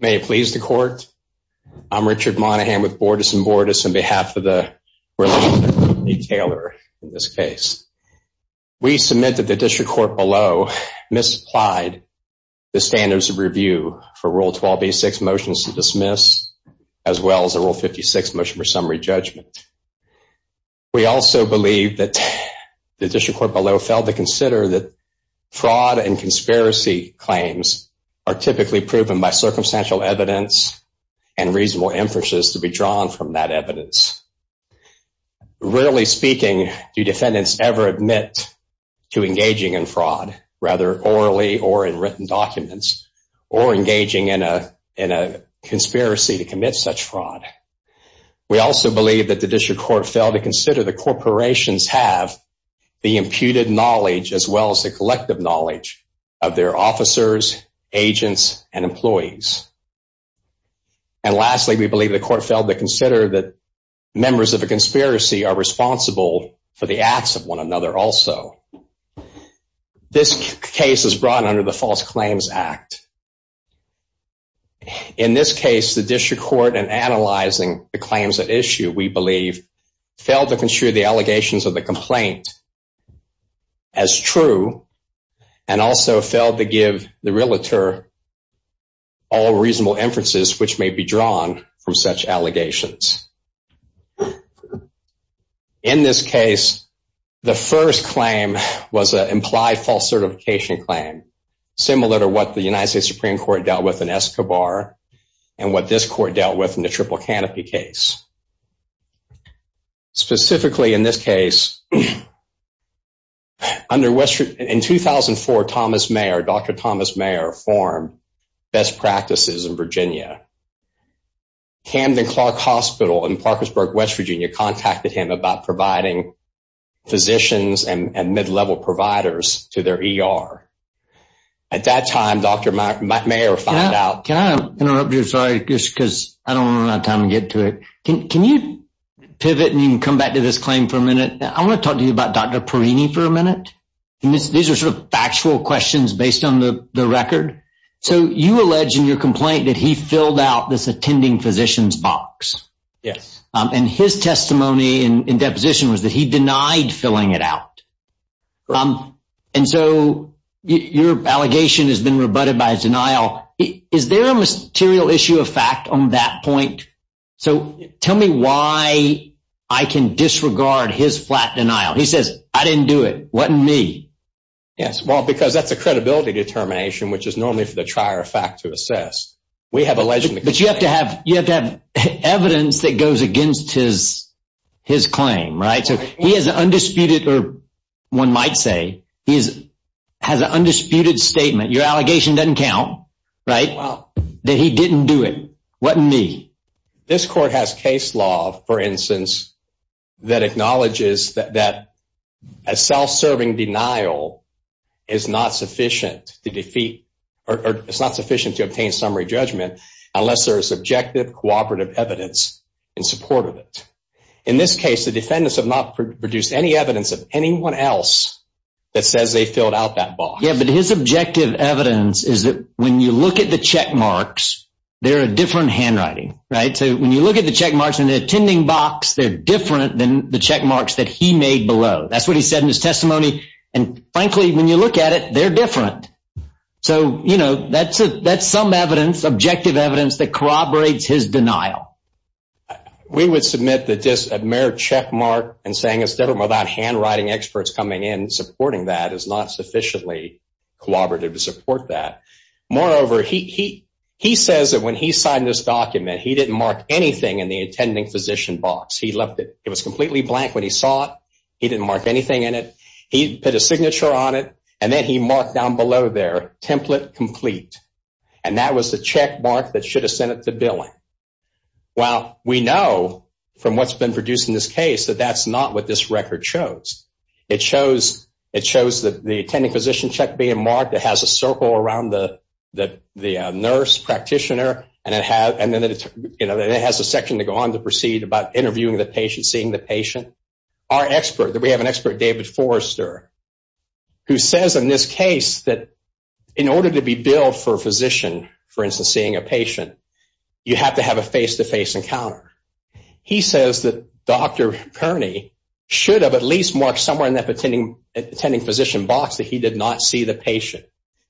May it please the court, I'm Richard Monaghan with Bordas & Bordas on behalf of the Relief Department, Lee Taylor, in this case. We submit that the District Court below misapplied the standards of review for Rule 12b-6, Motions to Dismiss, as well as the Rule 56, Motion for Summary Judgment. We also believe that the District Court below failed to consider that fraud and conspiracy claims are typically proven by circumstantial evidence and reasonable inferences to be drawn from that evidence. Rarely speaking, do defendants ever admit to engaging in fraud, rather orally or in written documents, or engaging in a conspiracy to commit such fraud. We also believe that the District Court failed to consider that knowledge of their officers, agents, and employees. And lastly, we believe the court failed to consider that members of a conspiracy are responsible for the acts of one another also. This case is brought under the False Claims Act. In this case, the District Court, in analyzing the claims at issue, we believe, failed to consider the allegations of the and also failed to give the realtor all reasonable inferences which may be drawn from such allegations. In this case, the first claim was an implied false certification claim, similar to what the United States Supreme Court dealt with in Escobar and what this Court dealt with in the Triple Canopy case. Specifically, in this case, in 2004, Dr. Thomas Mayer formed Best Practices in Virginia. Camden-Clarke Hospital in Parkersburg, West Virginia, contacted him about providing physicians and mid-level providers to their ER. At that time, Dr. Mayer Can I interrupt you? Sorry, just because I don't have time to get to it. Can you pivot and come back to this claim for a minute? I want to talk to you about Dr. Perini for a minute. These are sort of factual questions based on the record. So you allege in your complaint that he filled out this attending physicians box. Yes. And his testimony in deposition was that he denied filling it out. And so your allegation has been rebutted by his denial. Is there a material issue of fact on that point? So tell me why I can disregard his flat denial. He says, I didn't do it. Wasn't me. Yes. Well, because that's a credibility determination, which is normally for the trier of fact to assess. But you have to have evidence that goes against his claim, right? So he has an undisputed, or one might say, he has an undisputed statement. Your allegation doesn't count, right? That he didn't do it. Wasn't me. This court has case law, for instance, that acknowledges that a self-serving denial is not sufficient to defeat or it's not sufficient to obtain summary judgment unless there is objective, cooperative evidence in support of it. In this case, the defendants have not produced any evidence of anyone else that says they filled out that box. Yeah, but his objective evidence is that when you look at the check marks, they're a different handwriting, right? So when you look at the check marks in the attending box, they're different than the check marks that he made below. That's what he said in his testimony. And frankly, when you look at it, they're different. So, you know, that's some evidence, objective evidence that corroborates his denial. We would submit that just a mere check mark and saying it's different without handwriting experts coming in supporting that is not sufficiently cooperative to support that. Moreover, he says that when he signed this document, he didn't mark anything in the attending physician box. He left it. It was completely blank when he saw it. He didn't mark anything in it. He put a signature on it, and then he marked down below there, template complete. And that was the check mark that should have sent it to billing. Well, we know from what's been produced in this case that that's not what this record shows. It shows that the attending physician check being marked, it has a circle around the nurse practitioner, and then it has a section to go on to proceed about interviewing the patient, seeing the patient. Our expert, we have an expert, David Forrester, who says in this case that in order to be billed for a physician, for instance, seeing a patient, you have to have a face-to-face encounter. He says that Dr. Kearney should have at least marked somewhere in that attending physician box that he did not see the patient.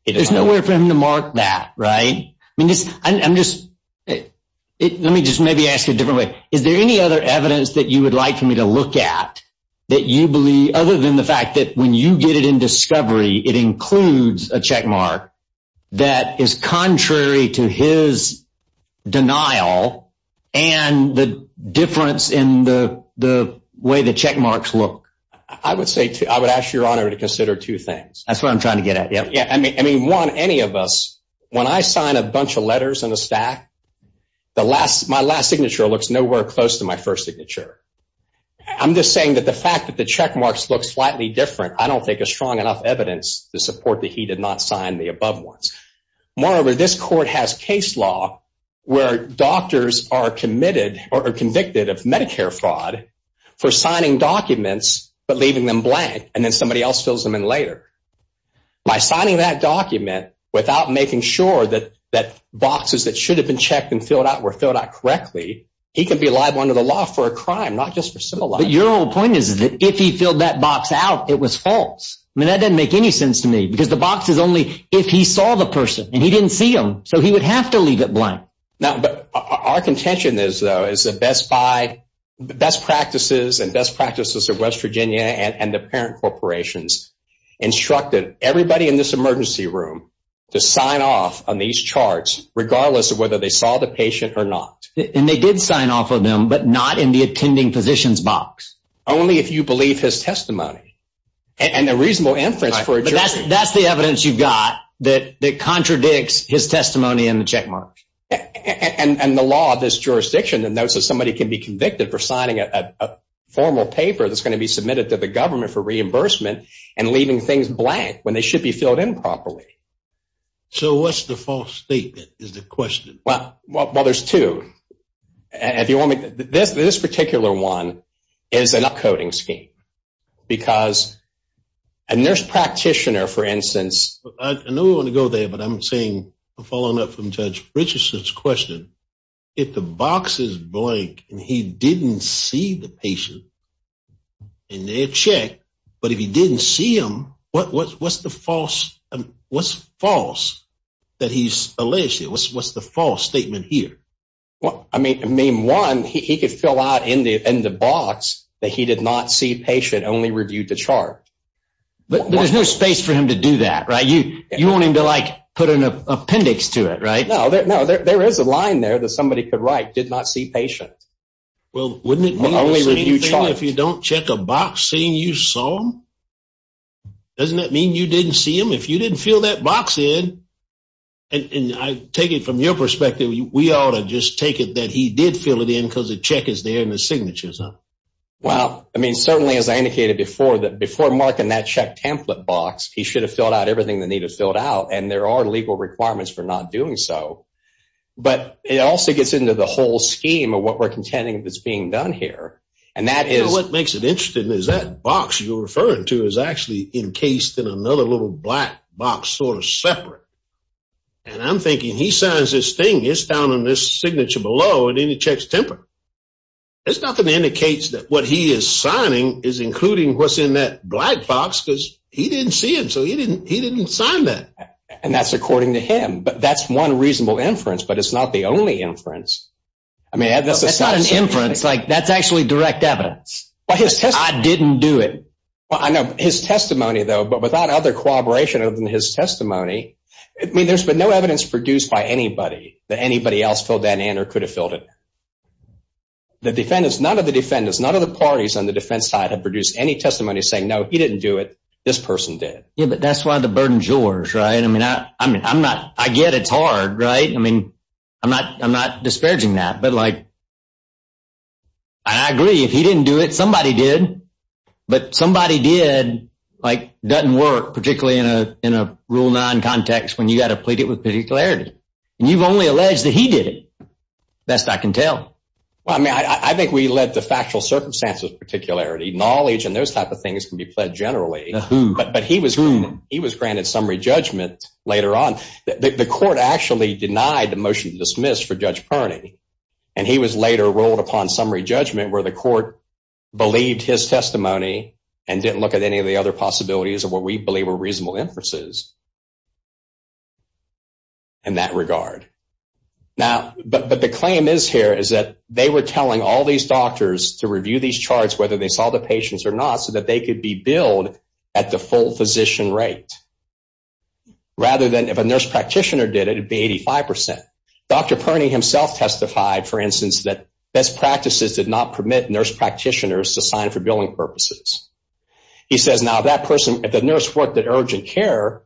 There's no way for him to mark that, right? I mean, I'm just, let me just maybe ask a different way. Is there any other evidence that you would like for me to look at that you believe, other than the fact that when you get it in discovery, it includes a check mark that is contrary to his denial and the difference in the way the check marks look? I would say, I would ask your honor to consider two things. That's what I'm trying to get at. I mean, one, any of us, when I sign a bunch of letters in a stack, my last signature looks nowhere close to my first signature. I'm just saying that the fact that the check marks look slightly different, I don't think is strong enough evidence to support that he did not sign the above ones. Moreover, this court has case law where doctors are convicted of Medicare fraud for signing documents but leaving them blank, and then somebody else fills them in later. By signing that document without making sure that boxes that should have been checked and filled out were filled out correctly, he could be liable under the law for a crime, not just for civil liability. But your whole point is that if he filled that box out, it was false. I mean, that doesn't make any sense to me, because the box is only if he saw the person, and he didn't see them, so he would have to leave it blank. Our contention, though, is that best practices and best practices of West Virginia and the parent corporations instructed everybody in this emergency room to sign off on these charts, regardless of whether they saw the patient or not. And they did sign off on them, but not in the attending physician's box. Only if you believe his testimony and a reasonable inference for a jury. That's the evidence you've got that contradicts his testimony and the check marks. And the law of this jurisdiction notes that somebody can be convicted for signing a formal paper that's going to be submitted to the government for reimbursement and leaving things blank when they should be filled in properly. So what's the false statement is the question? Well, there's two. This particular one is an upcoding scheme. Because a nurse practitioner, for instance… I know we're going to go there, but I'm following up on Judge Richardson's question. If the box is blank and he didn't see the patient in their check, but if he didn't see them, what's the false statement here? I mean, one, he could fill out in the box that he did not see the patient, only reviewed the chart. But there's no space for him to do that, right? You want him to put an appendix to it, right? No, there is a line there that somebody could write, did not see patient. Well, wouldn't it mean the same thing if you don't check a box saying you saw him? Doesn't that mean you didn't see him? If you didn't fill that box in, and I take it from your perspective, we ought to just take it that he did fill it in because the check is there and the signature is up. Well, I mean, certainly as I indicated before, that before marking that check template box, he should have filled out everything that needed to be filled out. And there are legal requirements for not doing so. But it also gets into the whole scheme of what we're contending that's being done here. And that is… You know what makes it interesting is that box you're referring to is actually encased in another little black box sort of separate. And I'm thinking, he signs this thing, it's down in this signature below, and then he checks template. There's nothing that indicates that what he is signing is including what's in that black box because he didn't see him, so he didn't sign that. And that's according to him. But that's one reasonable inference, but it's not the only inference. That's not an inference. That's actually direct evidence. I didn't do it. I know. His testimony, though, but without other corroboration other than his testimony, I mean, there's been no evidence produced by anybody that anybody else filled that in or could have filled it in. The defendants, none of the defendants, none of the parties on the defense side have produced any testimony saying, no, he didn't do it, this person did. Yeah, but that's why the burden's yours, right? I mean, I get it's hard, right? I mean, I'm not disparaging that. But, like, I agree. If he didn't do it, somebody did. But somebody did, like, doesn't work, particularly in a Rule 9 context when you've got to plead it with particularity. And you've only alleged that he did it, best I can tell. Well, I mean, I think we let the factual circumstances, particularity, knowledge, and those type of things can be pled generally. But he was granted summary judgment later on. The court actually denied the motion to dismiss for Judge Perney. And he was later rolled upon summary judgment where the court believed his testimony and didn't look at any of the other possibilities of what we believe were reasonable inferences. In that regard. Now, but the claim is here is that they were telling all these doctors to review these charts, whether they saw the patients or not, so that they could be billed at the full physician rate. Rather than if a nurse practitioner did it, it would be 85%. Dr. Perney himself testified, for instance, that best practices did not permit nurse practitioners to sign for billing purposes. He says, now, that person, if the nurse worked at urgent care,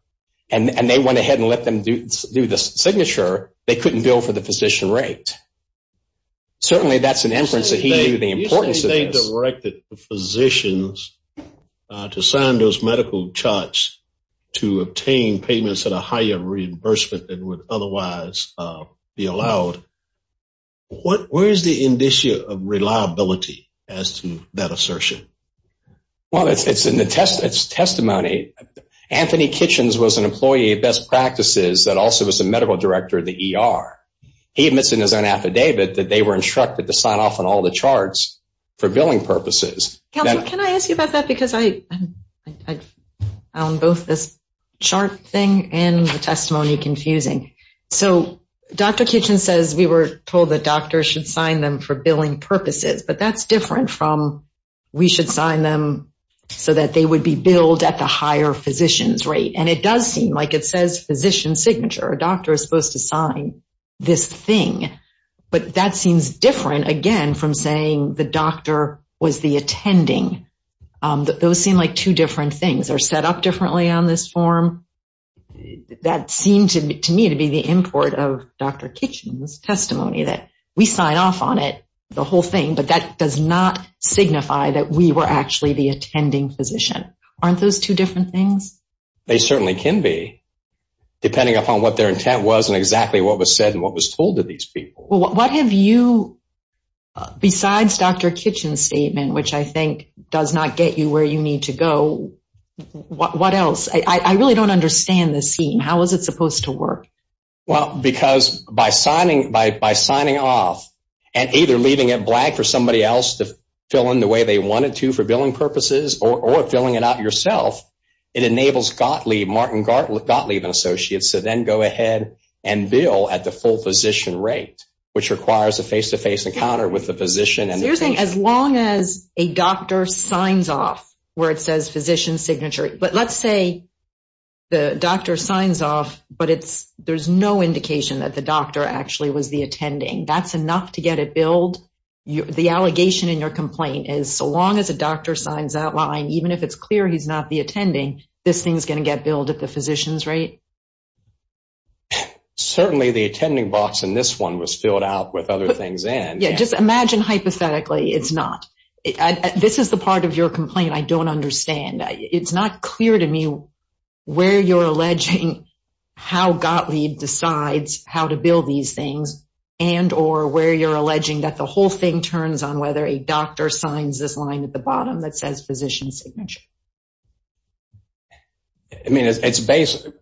and they went ahead and let them do the signature, they couldn't bill for the physician rate. Certainly, that's an inference that he knew the importance of this. He directed physicians to sign those medical charts to obtain payments at a higher reimbursement than would otherwise be allowed. Where is the indicia of reliability as to that assertion? Well, it's in the testimony. Anthony Kitchens was an employee of best practices that also was the medical director of the ER. He admits in his own affidavit that they were instructed to sign off on all the charts for billing purposes. Can I ask you about that? Because I found both this chart thing and the testimony confusing. So, Dr. Kitchens says we were told that doctors should sign them for billing purposes. But that's different from we should sign them so that they would be billed at the higher physician's rate. And it does seem like it says physician signature. A doctor is supposed to sign this thing. But that seems different, again, from saying the doctor was the attending. Those seem like two different things. They're set up differently on this form. That seemed to me to be the import of Dr. Kitchens' testimony that we sign off on it, the whole thing. But that does not signify that we were actually the attending physician. Aren't those two different things? They certainly can be, depending upon what their intent was and exactly what was said and what was told to these people. What have you, besides Dr. Kitchens' statement, which I think does not get you where you need to go, what else? I really don't understand this scheme. How is it supposed to work? Well, because by signing off and either leaving it black for somebody else to fill in the way they wanted to for billing purposes or filling it out yourself, it enables Martin Gottlieb and Associates to then go ahead and bill at the full physician rate, which requires a face-to-face encounter with the physician. So you're saying as long as a doctor signs off where it says physician signature. But let's say the doctor signs off, but there's no indication that the doctor actually was the attending. That's enough to get it billed? The allegation in your complaint is so long as a doctor signs that line, even if it's clear he's not the attending, this thing's going to get billed at the physician's rate? Certainly the attending box in this one was filled out with other things in. Yeah, just imagine hypothetically it's not. This is the part of your complaint I don't understand. It's not clear to me where you're alleging how Gottlieb decides how to bill these things and or where you're alleging that the whole thing turns on whether a doctor signs this line at the bottom that says physician signature. I mean,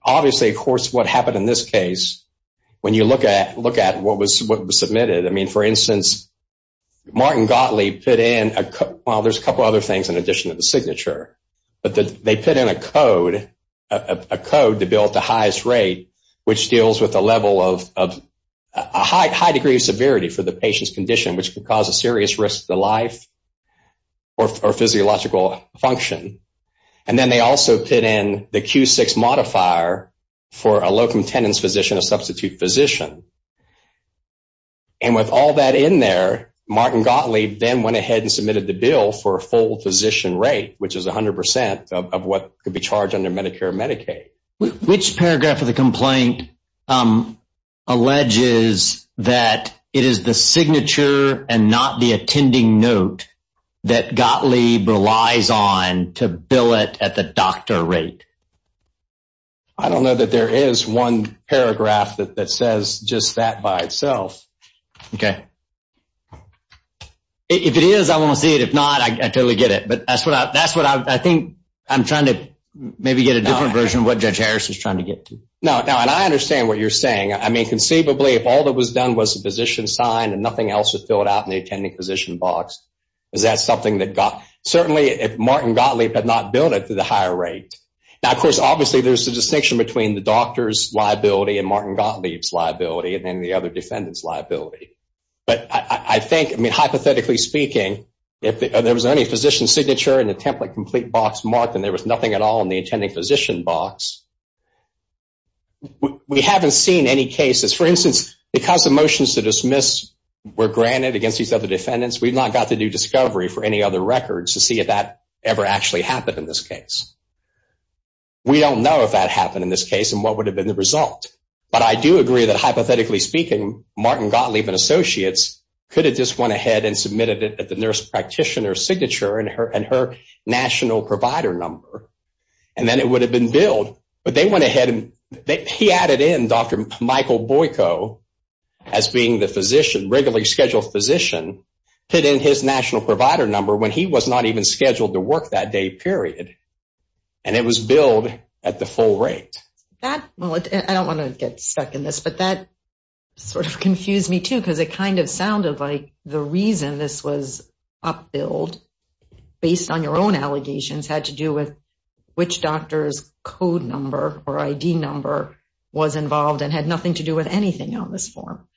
obviously, of course, what happened in this case, when you look at what was submitted, I mean, for instance, Martin Gottlieb put in, well, there's a couple other things in addition to the signature, but they put in a code to bill at the highest rate, which deals with a high degree of severity for the patient's condition, which could cause a serious risk to life or physiological function. And then they also put in the Q6 modifier for a locum tendens physician, a substitute physician. And with all that in there, Martin Gottlieb then went ahead and submitted the bill for a full physician rate, which is 100 percent of what could be charged under Medicare and Medicaid. Which paragraph of the complaint alleges that it is the signature and not the attending note that Gottlieb relies on to bill it at the doctor rate? I don't know that there is one paragraph that says just that by itself. Okay. If it is, I want to see it. If not, I totally get it. But that's what I think I'm trying to maybe get a different version of what Judge Harris is trying to get to. No, and I understand what you're saying. I mean, conceivably, if all that was done was the physician sign and nothing else was filled out in the attending physician box, is that something that got – certainly if Martin Gottlieb had not billed it to the higher rate. Now, of course, obviously there's a distinction between the doctor's liability and Martin Gottlieb's liability and then the other defendant's liability. But I think, I mean, hypothetically speaking, if there was only physician signature in the template complete box marked and there was nothing at all in the attending physician box, we haven't seen any cases. For instance, because the motions to dismiss were granted against these other defendants, we've not got the new discovery for any other records to see if that ever actually happened in this case. We don't know if that happened in this case and what would have been the result. But I do agree that, hypothetically speaking, Martin Gottlieb and associates could have just went ahead and submitted it at the nurse practitioner's signature and her national provider number, and then it would have been billed. But they went ahead and he added in Dr. Michael Boyko as being the physician, regularly scheduled physician, put in his national provider number when he was not even scheduled to work that day, period. And it was billed at the full rate. Well, I don't want to get stuck in this, but that sort of confused me too because it kind of sounded like the reason this was up-billed based on your own allegations had to do with which doctor's code number or ID number was involved and had nothing to do with anything on this form.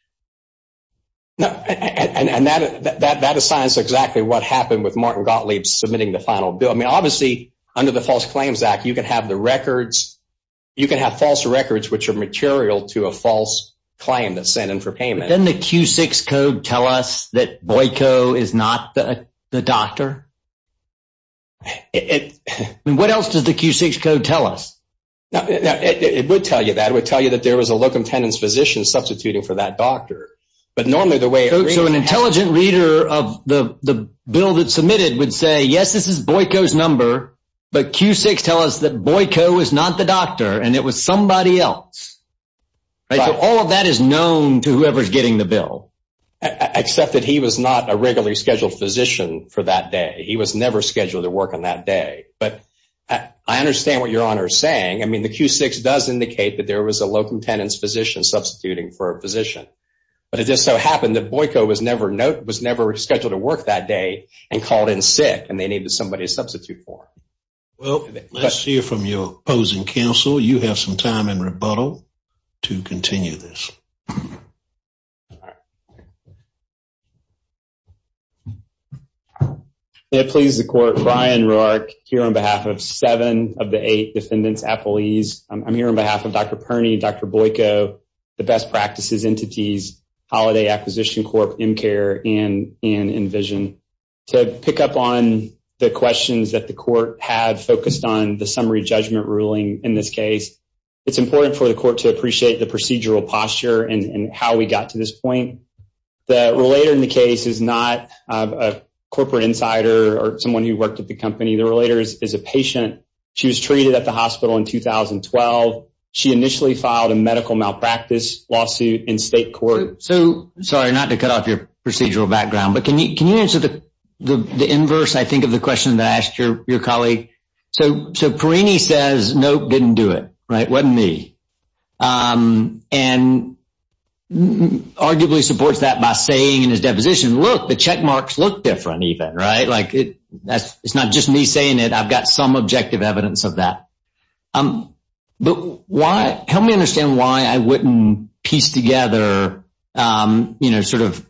And that assigns exactly what happened with Martin Gottlieb submitting the final bill. I mean, obviously, under the False Claims Act, you can have the records. You can have false records which are material to a false claim that's sent in for payment. Doesn't the Q6 code tell us that Boyko is not the doctor? I mean, what else does the Q6 code tell us? It would tell you that. It would tell you that there was a locum tenens physician substituting for that doctor. So an intelligent reader of the bill that's submitted would say, yes, this is Boyko's number, but Q6 tells us that Boyko is not the doctor and it was somebody else. All of that is known to whoever is getting the bill. Except that he was not a regularly scheduled physician for that day. He was never scheduled to work on that day. But I understand what Your Honor is saying. I mean, the Q6 does indicate that there was a locum tenens physician substituting for a physician. But it just so happened that Boyko was never scheduled to work that day and called in sick, and they needed somebody to substitute for him. Let's hear from your opposing counsel. You have some time in rebuttal to continue this. It pleases the Court. Brian Roark here on behalf of seven of the eight defendants at police. I'm here on behalf of Dr. Perny, Dr. Boyko, the best practices entities, Holiday Acquisition Corp., MCARE, and Envision. To pick up on the questions that the Court had focused on the summary judgment ruling in this case, it's important for the Court to appreciate the procedural posture and how we got to this point. The relator in the case is not a corporate insider or someone who worked at the company. The relator is a patient. She was treated at the hospital in 2012. She initially filed a medical malpractice lawsuit in state court. Sorry, not to cut off your procedural background, but can you answer the inverse, I think, of the question that I asked your colleague? So Perny says, nope, didn't do it. Wasn't me. And arguably supports that by saying in his deposition, look, the check marks look different even. It's not just me saying it. I've got some objective evidence of that. But help me understand why I wouldn't piece together, you know, sort of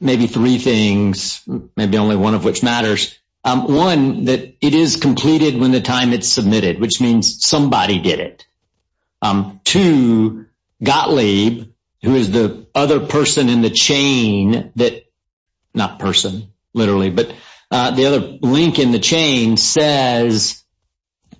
maybe three things, maybe only one of which matters. One, that it is completed when the time it's submitted, which means somebody did it. Two, Gottlieb, who is the other person in the chain, not person, literally, but the other link in the chain, says,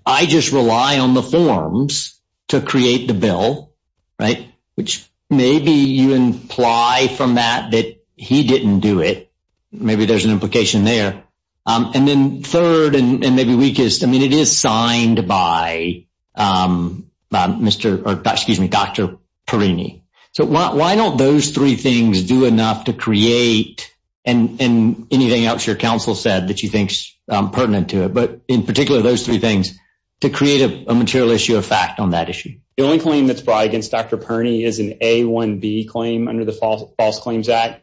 I just rely on the forms to create the bill, right? Which maybe you imply from that that he didn't do it. Maybe there's an implication there. And then third and maybe weakest, I mean, it is signed by Dr. Perny. So why don't those three things do enough to create, and anything else your counsel said that you think is pertinent to it, but in particular those three things, to create a material issue of fact on that issue? The only claim that's brought against Dr. Perny is an A1B claim under the False Claims Act.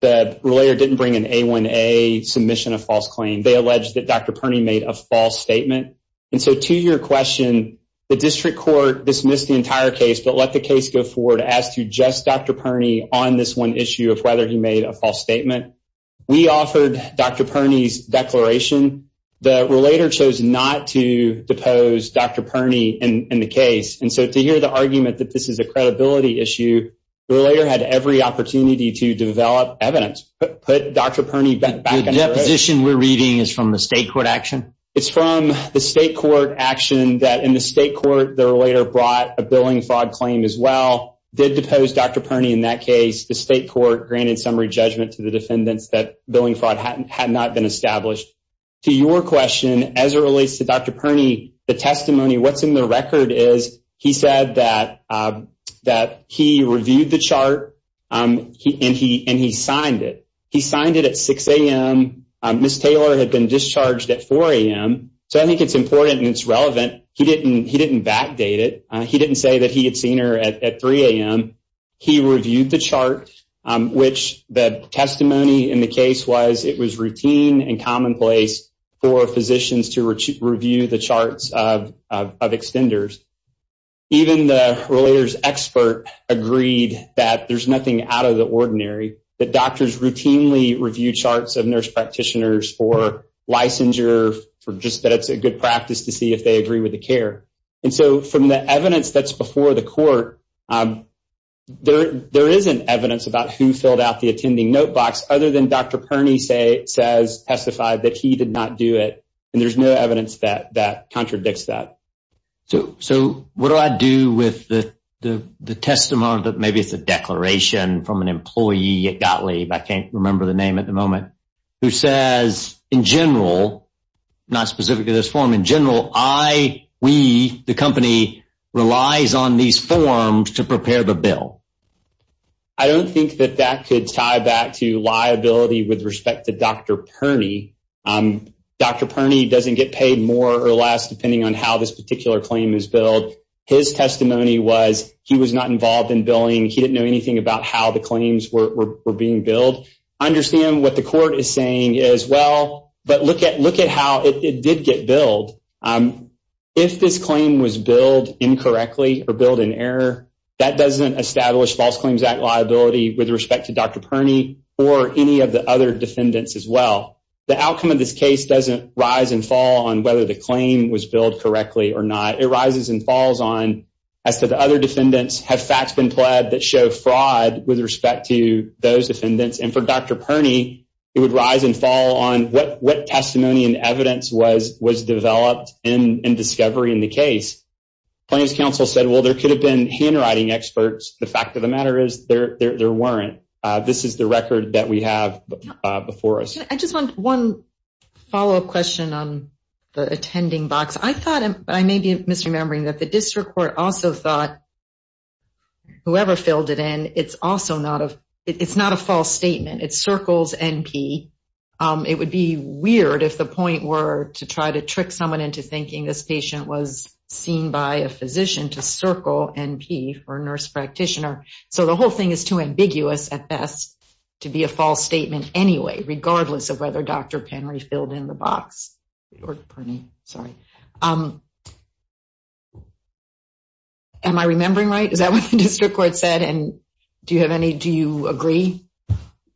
The relator didn't bring an A1A submission of false claim. They alleged that Dr. Perny made a false statement. And so to your question, the district court dismissed the entire case but let the case go forward as to just Dr. Perny on this one issue of whether he made a false statement. We offered Dr. Perny's declaration. The relator chose not to depose Dr. Perny in the case. And so to hear the argument that this is a credibility issue, the relator had every opportunity to develop evidence, put Dr. Perny back in the case. The deposition we're reading is from the state court action? It's from the state court action that in the state court, the relator brought a billing fraud claim as well, did depose Dr. Perny in that case. The state court granted summary judgment to the defendants that billing fraud had not been established. To your question, as it relates to Dr. Perny, the testimony, what's in the record is he said that he reviewed the chart and he signed it. He signed it at 6 a.m. Ms. Taylor had been discharged at 4 a.m. So I think it's important and it's relevant. He didn't backdate it. He didn't say that he had seen her at 3 a.m. He reviewed the chart, which the testimony in the case was it was routine and commonplace for physicians to review the charts of extenders. Even the relator's expert agreed that there's nothing out of the ordinary, that doctors routinely review charts of nurse practitioners for licensure, for just that it's a good practice to see if they agree with the care. And so from the evidence that's before the court, there isn't evidence about who filled out the attending notebook other than Dr. Perny says, testified that he did not do it. And there's no evidence that contradicts that. So what do I do with the testimony that maybe it's a declaration from an employee at Gottlieb, I can't remember the name at the moment, who says in general, not specifically this form, in general, I, we, the company relies on these forms to prepare the bill. I don't think that that could tie back to liability with respect to Dr. Perny. Dr. Perny doesn't get paid more or less depending on how this particular claim is billed. His testimony was he was not involved in billing. He didn't know anything about how the claims were being billed. I understand what the court is saying as well, but look at how it did get billed. If this claim was billed incorrectly or billed in error, that doesn't establish False Claims Act liability with respect to Dr. Perny or any of the other defendants as well. The outcome of this case doesn't rise and fall on whether the claim was billed correctly or not. It rises and falls on as to the other defendants have facts been pled that show fraud with respect to those defendants. And for Dr. Perny, it would rise and fall on what what testimony and evidence was was developed in discovery in the case. Plaintiff's counsel said, well, there could have been handwriting experts. The fact of the matter is there there weren't. This is the record that we have before us. I just want one follow up question on the attending box. I thought I may be misremembering that the district court also thought. Whoever filled it in, it's also not a it's not a false statement. It circles NP. It would be weird if the point were to try to trick someone into thinking this patient was seen by a physician to circle NP or nurse practitioner. So the whole thing is too ambiguous at best to be a false statement anyway, regardless of whether Dr. Penry filled in the box or Perny. Sorry. Am I remembering right? Is that what the district court said? And do you have any? Do you agree?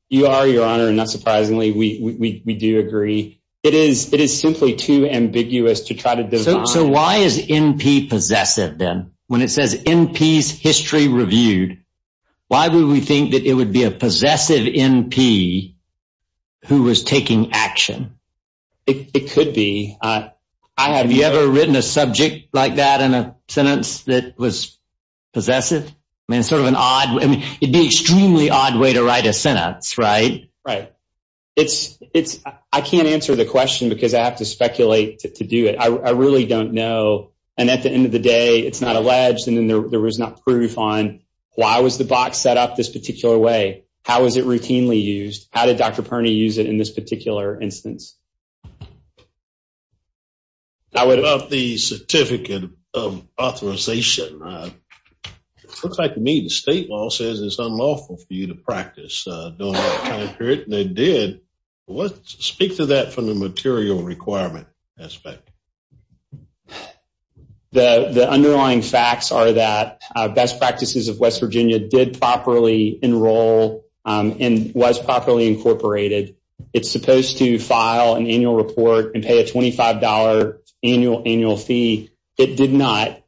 You are your honor. And not surprisingly, we do agree. It is it is simply too ambiguous to try to. So why is NP possessive then when it says in peace history reviewed? Why would we think that it would be a possessive NP? Who was taking action? It could be. I have you ever written a subject like that in a sentence that was possessive and sort of an odd. It'd be extremely odd way to write a sentence. Right. Right. It's it's I can't answer the question because I have to speculate to do it. I really don't know. And at the end of the day, it's not alleged. And then there was not proof on why was the box set up this particular way? How is it routinely used? How did Dr. Perny use it in this particular instance? I would love the certificate of authorization. Looks like to me, the state law says it's unlawful for you to practice. They did speak to that from the material requirement aspect. The underlying facts are that best practices of West Virginia did properly enroll and was properly incorporated. It's supposed to file an annual report and pay a twenty five dollar annual annual fee. It did not.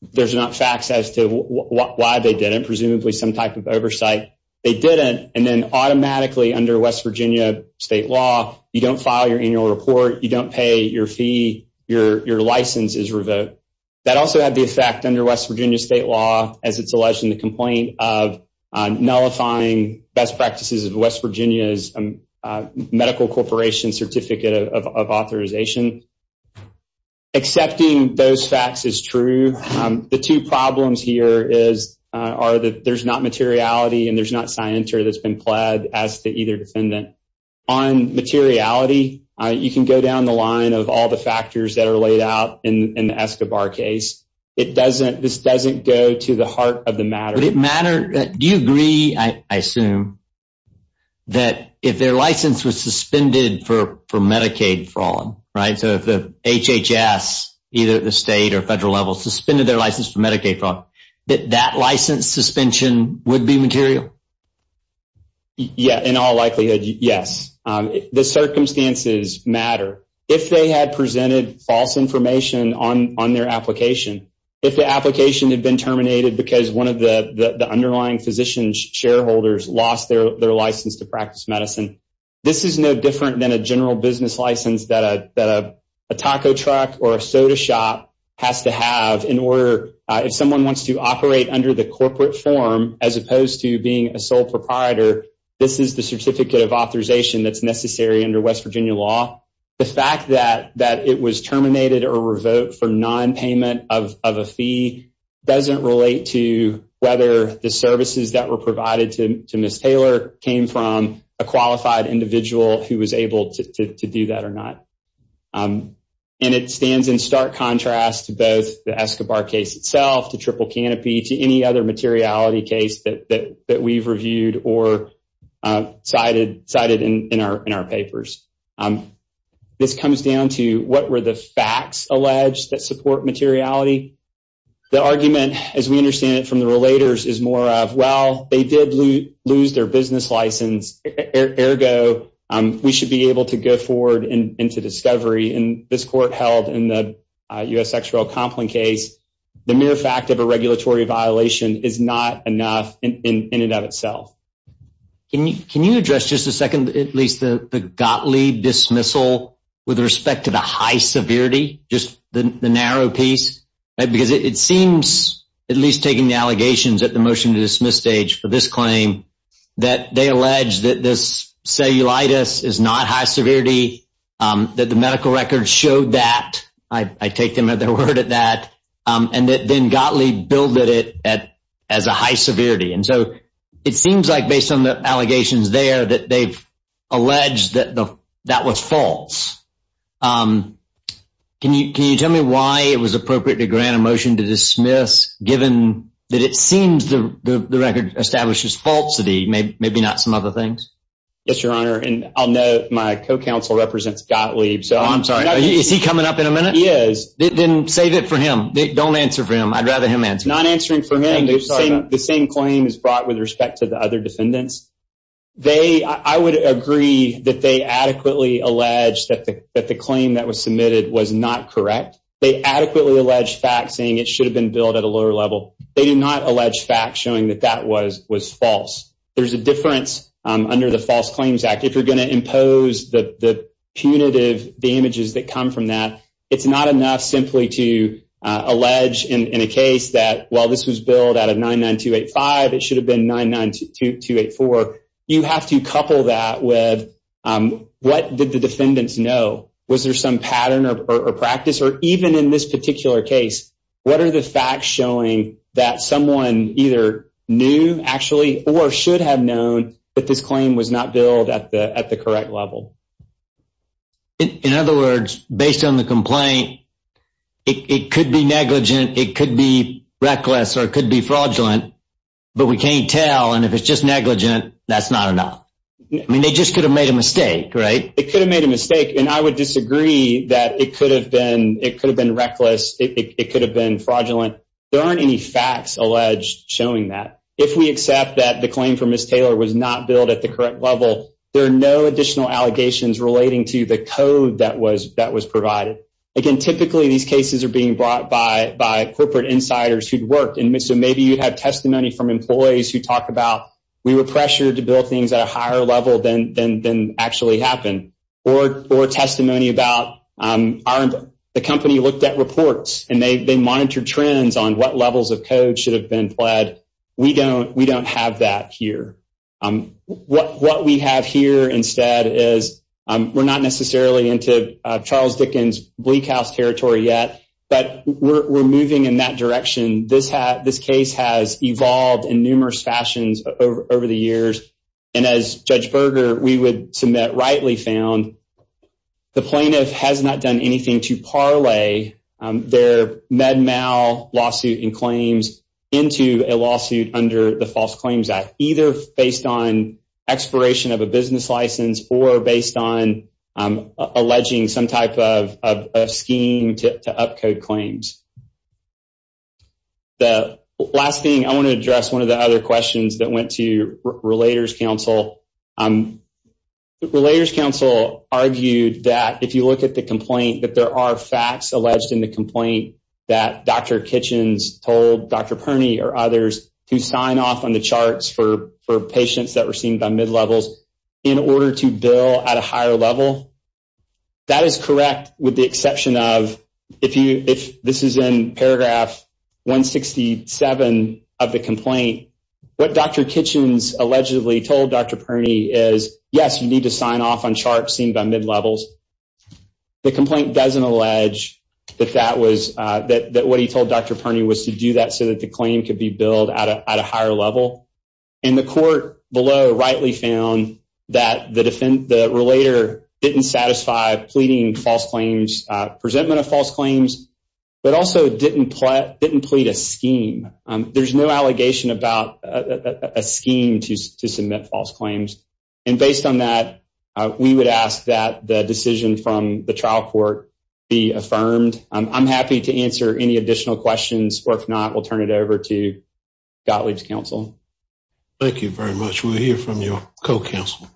There's not facts as to why they did it. Presumably some type of oversight. They did it. And then automatically under West Virginia state law, you don't file your annual report. You don't pay your fee. Your license is revoked. That also had the effect under West Virginia state law, as it's alleged in the complaint of nullifying best practices of West Virginia's medical corporation certificate of authorization. Accepting those facts is true. The two problems here is are that there's not materiality and there's not signature that's been pled as to either defendant on materiality. You can go down the line of all the factors that are laid out in the Escobar case. It doesn't this doesn't go to the heart of the matter. Do you agree, I assume, that if their license was suspended for Medicaid fraud, right? So if the HHS, either the state or federal level, suspended their license for Medicaid fraud, that that license suspension would be material? Yeah, in all likelihood, yes. The circumstances matter. If they had presented false information on on their application, if the application had been terminated because one of the underlying physicians shareholders lost their license to practice medicine. This is no different than a general business license that a taco truck or a soda shop has to have in order. If someone wants to operate under the corporate form, as opposed to being a sole proprietor, this is the certificate of authorization that's necessary under West Virginia law. The fact that that it was terminated or revoked for nonpayment of a fee doesn't relate to whether the services that were provided to Miss Taylor came from a qualified individual who was able to do that or not. And it stands in stark contrast to both the Escobar case itself, to Triple Canopy, to any other materiality case that that that we've reviewed or cited cited in our in our papers. This comes down to what were the facts alleged that support materiality. The argument, as we understand it from the relators, is more of, well, they did lose their business license. Ergo, we should be able to go forward and into discovery. And this court held in the U.S. Compton case, the mere fact of a regulatory violation is not enough in and of itself. Can you address just a second, at least the Gottlieb dismissal with respect to the high severity, just the narrow piece? Because it seems, at least taking the allegations at the motion to dismiss stage for this claim, that they allege that this cellulitis is not high severity, that the medical records show that. I take them at their word at that. And then Gottlieb billed it at as a high severity. And so it seems like based on the allegations there that they've alleged that that was false. Can you can you tell me why it was appropriate to grant a motion to dismiss, given that it seems the record establishes falsity? Maybe maybe not some other things. Yes, your honor. And I'll know my co-counsel represents Gottlieb. So I'm sorry. Is he coming up in a minute? Yes. Then save it for him. Don't answer for him. I'd rather him answer not answering for him. The same claim is brought with respect to the other defendants. They I would agree that they adequately alleged that the claim that was submitted was not correct. They adequately alleged facts saying it should have been billed at a lower level. They did not allege facts showing that that was was false. There's a difference under the False Claims Act. If you're going to impose the punitive damages that come from that. It's not enough simply to allege in a case that while this was billed out of nine nine two eight five, it should have been nine nine two eight four. You have to couple that with what did the defendants know? Was there some pattern or practice or even in this particular case? What are the facts showing that someone either knew actually or should have known that this claim was not billed at the at the correct level? In other words, based on the complaint, it could be negligent. It could be reckless or it could be fraudulent. But we can't tell. And if it's just negligent, that's not enough. I mean, they just could have made a mistake, right? It could have made a mistake. And I would disagree that it could have been it could have been reckless. It could have been fraudulent. There aren't any facts alleged showing that if we accept that the claim from Miss Taylor was not billed at the correct level. There are no additional allegations relating to the code that was that was provided. Again, typically these cases are being brought by by corporate insiders who'd worked in. So maybe you have testimony from employees who talk about. We were pressured to build things at a higher level than than than actually happened. Or or testimony about the company looked at reports and they monitored trends on what levels of code should have been pled. We don't we don't have that here. What what we have here instead is we're not necessarily into Charles Dickens Bleak House territory yet, but we're moving in that direction. This this case has evolved in numerous fashions over the years. And as Judge Berger, we would submit rightly found the plaintiff has not done anything to parlay their med mal lawsuit and claims into a lawsuit under the False Claims Act, either based on expiration of a business license or based on alleging some type of scheme to up code claims. The last thing I want to address, one of the other questions that went to Relators Council Relators Council argued that if you look at the complaint, that there are facts alleged in the complaint that Dr. Kitchens told Dr. Perny or others to sign off on the charts for for patients that were seen by mid levels in order to bill at a higher level. That is correct, with the exception of if you if this is in paragraph 167 of the complaint, what Dr. Kitchens allegedly told Dr. Perny is, yes, you need to sign off on charts seen by mid levels. The complaint doesn't allege that that was that what he told Dr. Perny was to do that so that the claim could be billed at a higher level. And the court below rightly found that the defend the Relator didn't satisfy pleading false claims, presentment of false claims, but also didn't didn't plead a scheme. There's no allegation about a scheme to submit false claims. And based on that, we would ask that the decision from the trial court be affirmed. I'm happy to answer any additional questions, or if not, we'll turn it over to Gotley's counsel. Thank you very much. We'll hear from your co-counsel.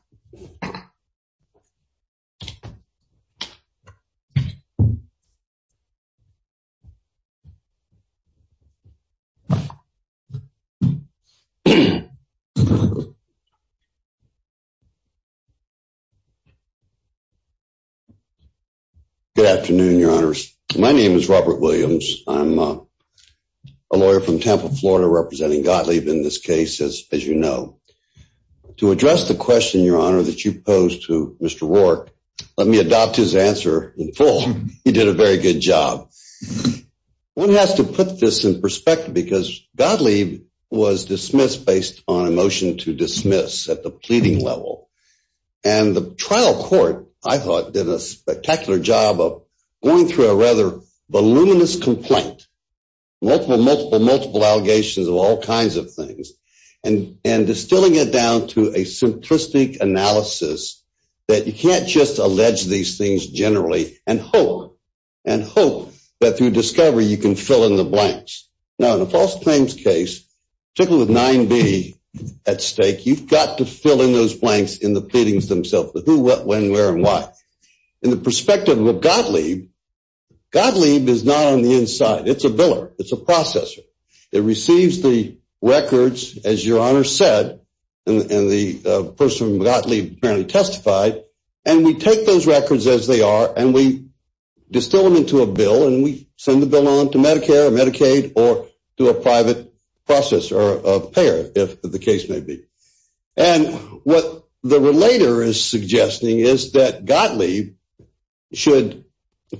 Good afternoon, your honors. My name is Robert Williams. I'm a lawyer from Tampa, Florida, representing Gottlieb in this case, as you know. To address the question, your honor, that you posed to Mr. Rourke, let me adopt his answer in full. He did a very good job. One has to put this in perspective because Gottlieb was dismissed based on a motion to dismiss at the pleading level. And the trial court, I thought, did a spectacular job of going through a rather voluminous complaint, multiple, multiple, multiple allegations of all kinds of things, and distilling it down to a simplistic analysis that you can't just allege these things generally and hope, and hope that through discovery you can fill in the blanks. Now, in a false claims case, particularly with 9B at stake, you've got to fill in those blanks in the pleadings themselves, the who, what, when, where, and why. In the perspective of Gottlieb, Gottlieb is not on the inside. It's a biller. It's a processor. It receives the records, as your honor said, and the person from Gottlieb apparently testified, and we take those records as they are, and we distill them into a bill, and we send the bill on to Medicare or Medicaid or to a private processor or payer, if the case may be. And what the relator is suggesting is that Gottlieb should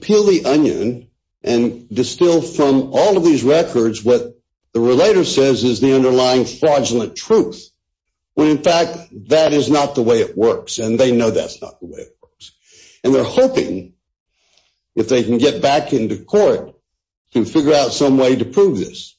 peel the onion and distill from all of these records what the relator says is the underlying fraudulent truth, when in fact that is not the way it works, and they know that's not the way it works. And they're hoping, if they can get back into court, to figure out some way to prove this.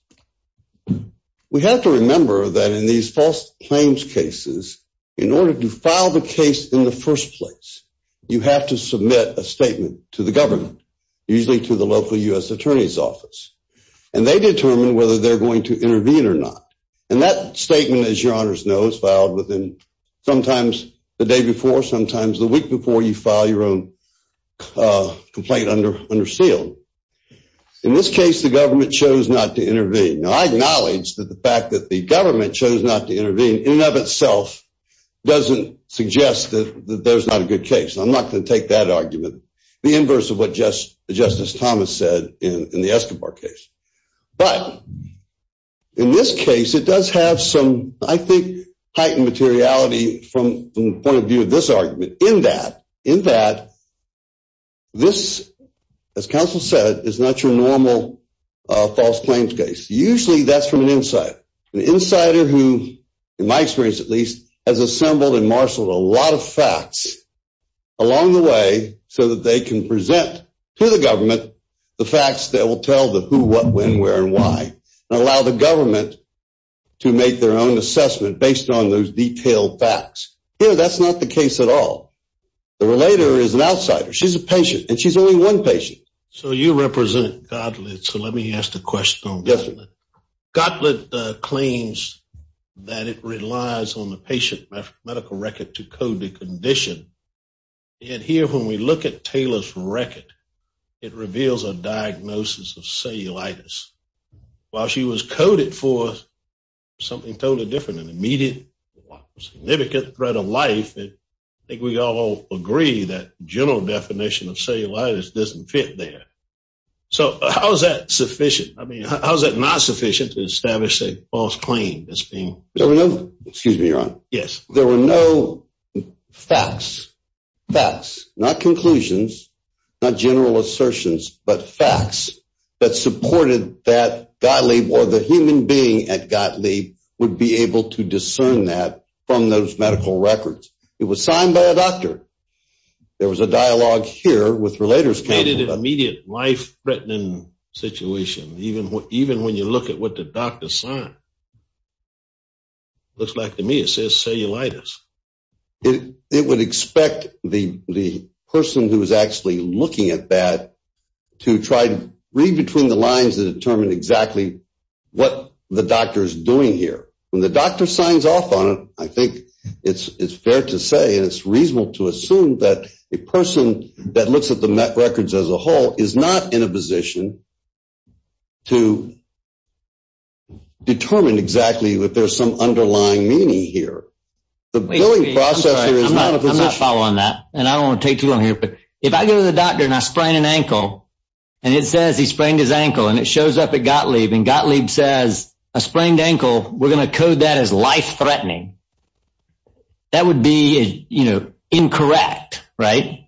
We have to remember that in these false claims cases, in order to file the case in the first place, you have to submit a statement to the government, usually to the local U.S. Attorney's Office, and they determine whether they're going to intervene or not. And that statement, as your honors know, is filed within sometimes the day before, sometimes the week before you file your own complaint under seal. In this case, the government chose not to intervene. Now, I acknowledge that the fact that the government chose not to intervene, in and of itself, doesn't suggest that there's not a good case. I'm not going to take that argument, the inverse of what Justice Thomas said in the Escobar case. But, in this case, it does have some, I think, heightened materiality from the point of view of this argument. In that, this, as counsel said, is not your normal false claims case. Usually, that's from an insider. An insider who, in my experience at least, has assembled and marshaled a lot of facts along the way, so that they can present to the government the facts that will tell the who, what, when, where, and why, and allow the government to make their own assessment based on those detailed facts. Here, that's not the case at all. The relator is an outsider. She's a patient, and she's only one patient. So, you represent Gottlieb, so let me ask the question on Gottlieb. Gottlieb claims that it relies on the patient medical record to code the condition. And here, when we look at Taylor's record, it reveals a diagnosis of cellulitis. While she was coded for something totally different, an immediate significant threat of life, I think we all agree that general definition of cellulitis doesn't fit there. So, how is that sufficient? I mean, how is that not sufficient to establish a false claim as being? Excuse me, Your Honor. Yes. There were no facts, not conclusions, not general assertions, but facts that supported that Gottlieb or the human being at Gottlieb would be able to discern that from those medical records. It was signed by a doctor. There was a dialogue here with relator's counsel. An immediate life-threatening situation, even when you look at what the doctor signed. Looks like to me it says cellulitis. It would expect the person who is actually looking at that to try to read between the lines and determine exactly what the doctor is doing here. When the doctor signs off on it, I think it's fair to say and it's reasonable to assume that a person that looks at the records as a whole is not in a position to determine exactly if there's some underlying meaning here. The billing process here is not a position. I'm not following that, and I don't want to take too long here. If I go to the doctor and I sprain an ankle, and it says he sprained his ankle, and it shows up at Gottlieb, and Gottlieb says, I sprained ankle, we're going to code that as life-threatening. That would be, you know, incorrect, right?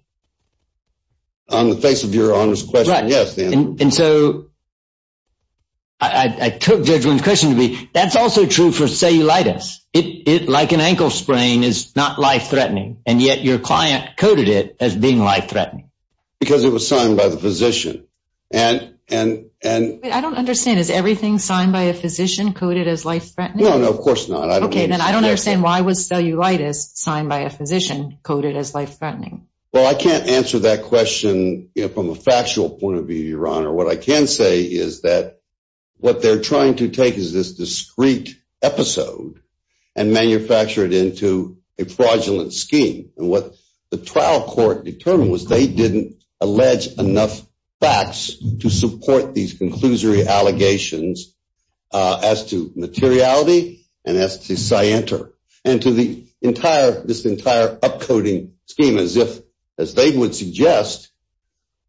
On the face of your honor's question, yes, Dan. And so I took Judge Lind's question to be, that's also true for cellulitis. Like an ankle sprain is not life-threatening, and yet your client coded it as being life-threatening. Because it was signed by the physician. I don't understand. Is everything signed by a physician coded as life-threatening? No, no, of course not. Okay, then I don't understand why was cellulitis signed by a physician coded as life-threatening? Well, I can't answer that question from a factual point of view, your honor. What I can say is that what they're trying to take is this discreet episode and manufacture it into a fraudulent scheme. And what the trial court determined was they didn't allege enough facts to support these conclusory allegations as to materiality and as to scienter. And to this entire upcoding scheme, as they would suggest,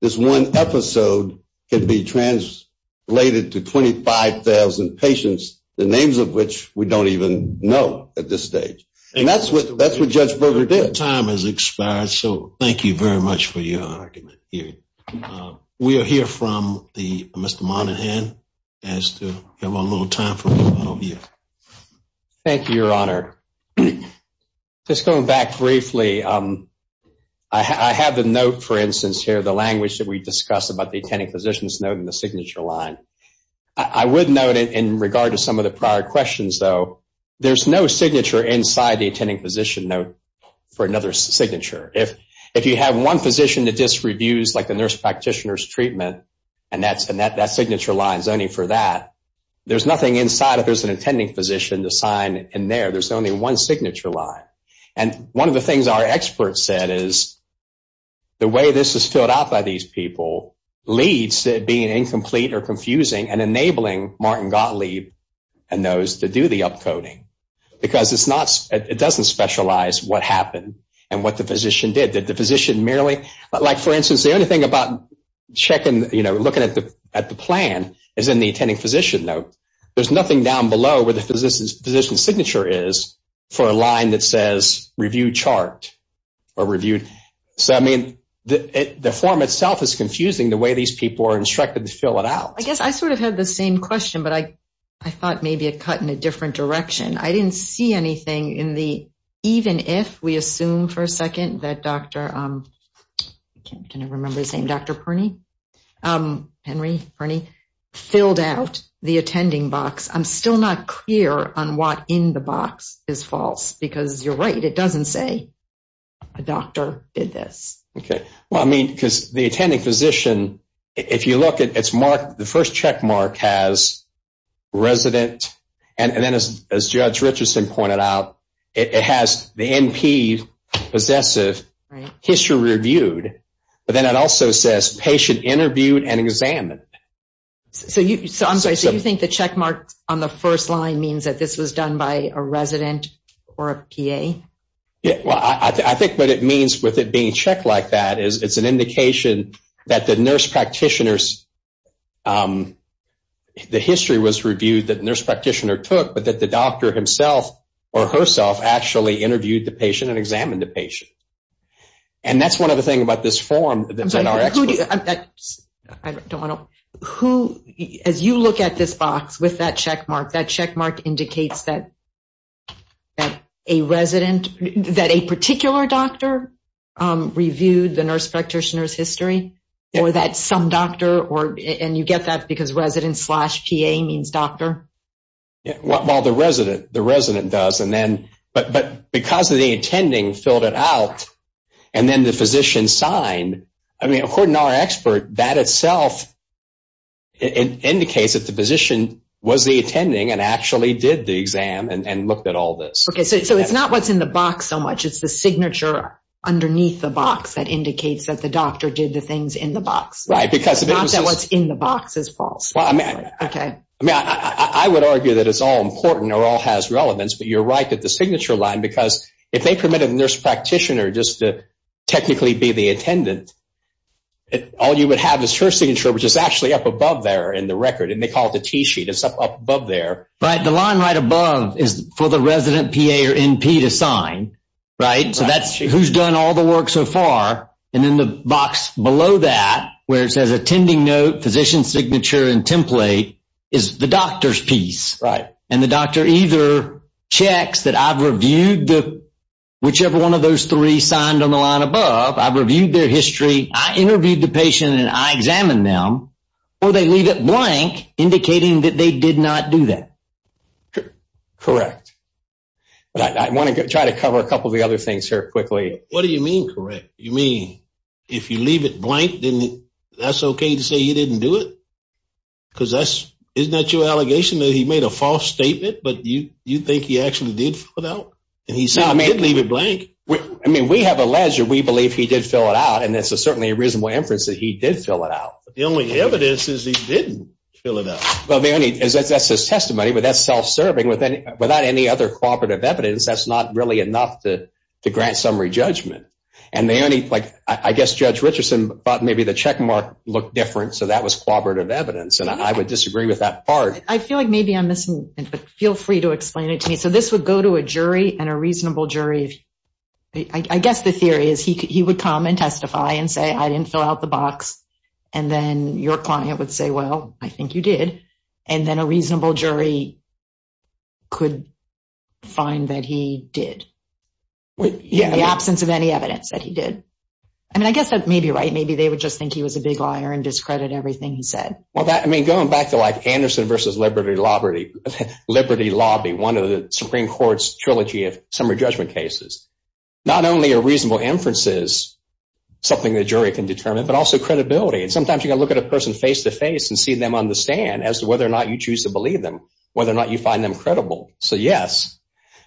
this one episode could be translated to 25,000 patients, the names of which we don't even know at this stage. And that's what Judge Berger did. Your time has expired, so thank you very much for your argument. We'll hear from Mr. Monahan as to have a little time for you. Thank you, your honor. Just going back briefly, I have the note, for instance, here, the language that we discussed about the attending physician's note and the signature line. I would note in regard to some of the prior questions, though, there's no signature inside the attending physician note for another signature. If you have one physician that disreviews, like the nurse practitioner's treatment, and that signature line is only for that, there's nothing inside it. There's an attending physician to sign in there. There's only one signature line. And one of the things our experts said is the way this is filled out by these people leads to it being incomplete or confusing and enabling Martin Gottlieb and those to do the upcoding because it doesn't specialize what happened and what the physician did. Did the physician merely, like, for instance, the only thing about checking, you know, looking at the plan is in the attending physician note. There's nothing down below where the physician's signature is for a line that says review chart or reviewed. So, I mean, the form itself is confusing the way these people are instructed to fill it out. Well, I guess I sort of had the same question, but I thought maybe it cut in a different direction. I didn't see anything in the even if we assume for a second that Dr. Perny filled out the attending box. I'm still not clear on what in the box is false because you're right, it doesn't say a doctor did this. Okay. Well, I mean, because the attending physician, if you look at its mark, the first check mark has resident and then as Judge Richardson pointed out, it has the NP possessive, history reviewed, but then it also says patient interviewed and examined. So, I'm sorry, so you think the check mark on the first line means that this was done by a resident or a PA? Well, I think what it means with it being checked like that is it's an indication that the nurse practitioners, the history was reviewed that the nurse practitioner took, but that the doctor himself or herself actually interviewed the patient and examined the patient. And that's one of the things about this form that's in our experts. I don't know. As you look at this box with that check mark, that check mark indicates that a resident, that a particular doctor reviewed the nurse practitioner's history or that some doctor, and you get that because resident slash PA means doctor? Well, the resident does, but because the attending filled it out and then the physician signed, I mean, according to our expert, that itself indicates that the physician was the attending and actually did the exam and looked at all this. Okay, so it's not what's in the box so much. It's the signature underneath the box that indicates that the doctor did the things in the box. Right. Not that what's in the box is false. Okay. I mean, I would argue that it's all important or all has relevance, but you're right that the signature line, because if they permitted the nurse practitioner just to technically be the attendant, all you would have is her signature, which is actually up above there in the record, and they call it the T-sheet. It's up above there. Right. The line right above is for the resident PA or NP to sign, right? So that's who's done all the work so far. And in the box below that, where it says attending note, physician signature, and template, is the doctor's piece. Right. And the doctor either checks that I've reviewed whichever one of those three signed on the line above, I've reviewed their history, I interviewed the patient, and I examined them, or they leave it blank indicating that they did not do that. Correct. I want to try to cover a couple of the other things here quickly. What do you mean correct? You mean if you leave it blank, that's okay to say he didn't do it? Isn't that your allegation that he made a false statement, but you think he actually did fill it out? And he said he didn't leave it blank. I mean we have alleged or we believe he did fill it out, and it's certainly a reasonable inference that he did fill it out. The only evidence is he didn't fill it out. Well, that's his testimony, but that's self-serving. Without any other cooperative evidence, that's not really enough to grant summary judgment. I guess Judge Richardson thought maybe the check mark looked different, so that was cooperative evidence, and I would disagree with that part. I feel like maybe I'm missing something, but feel free to explain it to me. So this would go to a jury and a reasonable jury. I guess the theory is he would come and testify and say I didn't fill out the box, and then your client would say, well, I think you did, and then a reasonable jury could find that he did. In the absence of any evidence that he did. I mean I guess that may be right. Maybe they would just think he was a big liar and discredit everything he said. Well, I mean going back to like Anderson v. Liberty Lobby, one of the Supreme Court's trilogy of summary judgment cases, not only are reasonable inferences something the jury can determine, but also credibility. And sometimes you've got to look at a person face-to-face and see them on the stand as to whether or not you choose to believe them, whether or not you find them credible. So yes,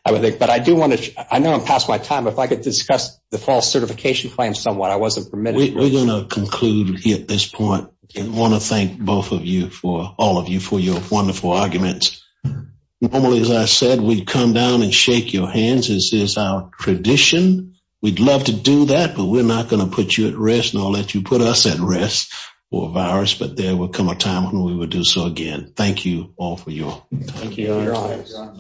I would think, but I do want to, I know I'm past my time, but if I could discuss the false certification claim somewhat. I wasn't permitted. We're going to conclude at this point and want to thank both of you for, all of you for your wonderful arguments. Normally, as I said, we'd come down and shake your hands. This is our tradition. We'd love to do that, but we're not going to put you at rest nor let you put us at rest for a virus, but there will come a time when we will do so again. Thank you all for your time. Thank you.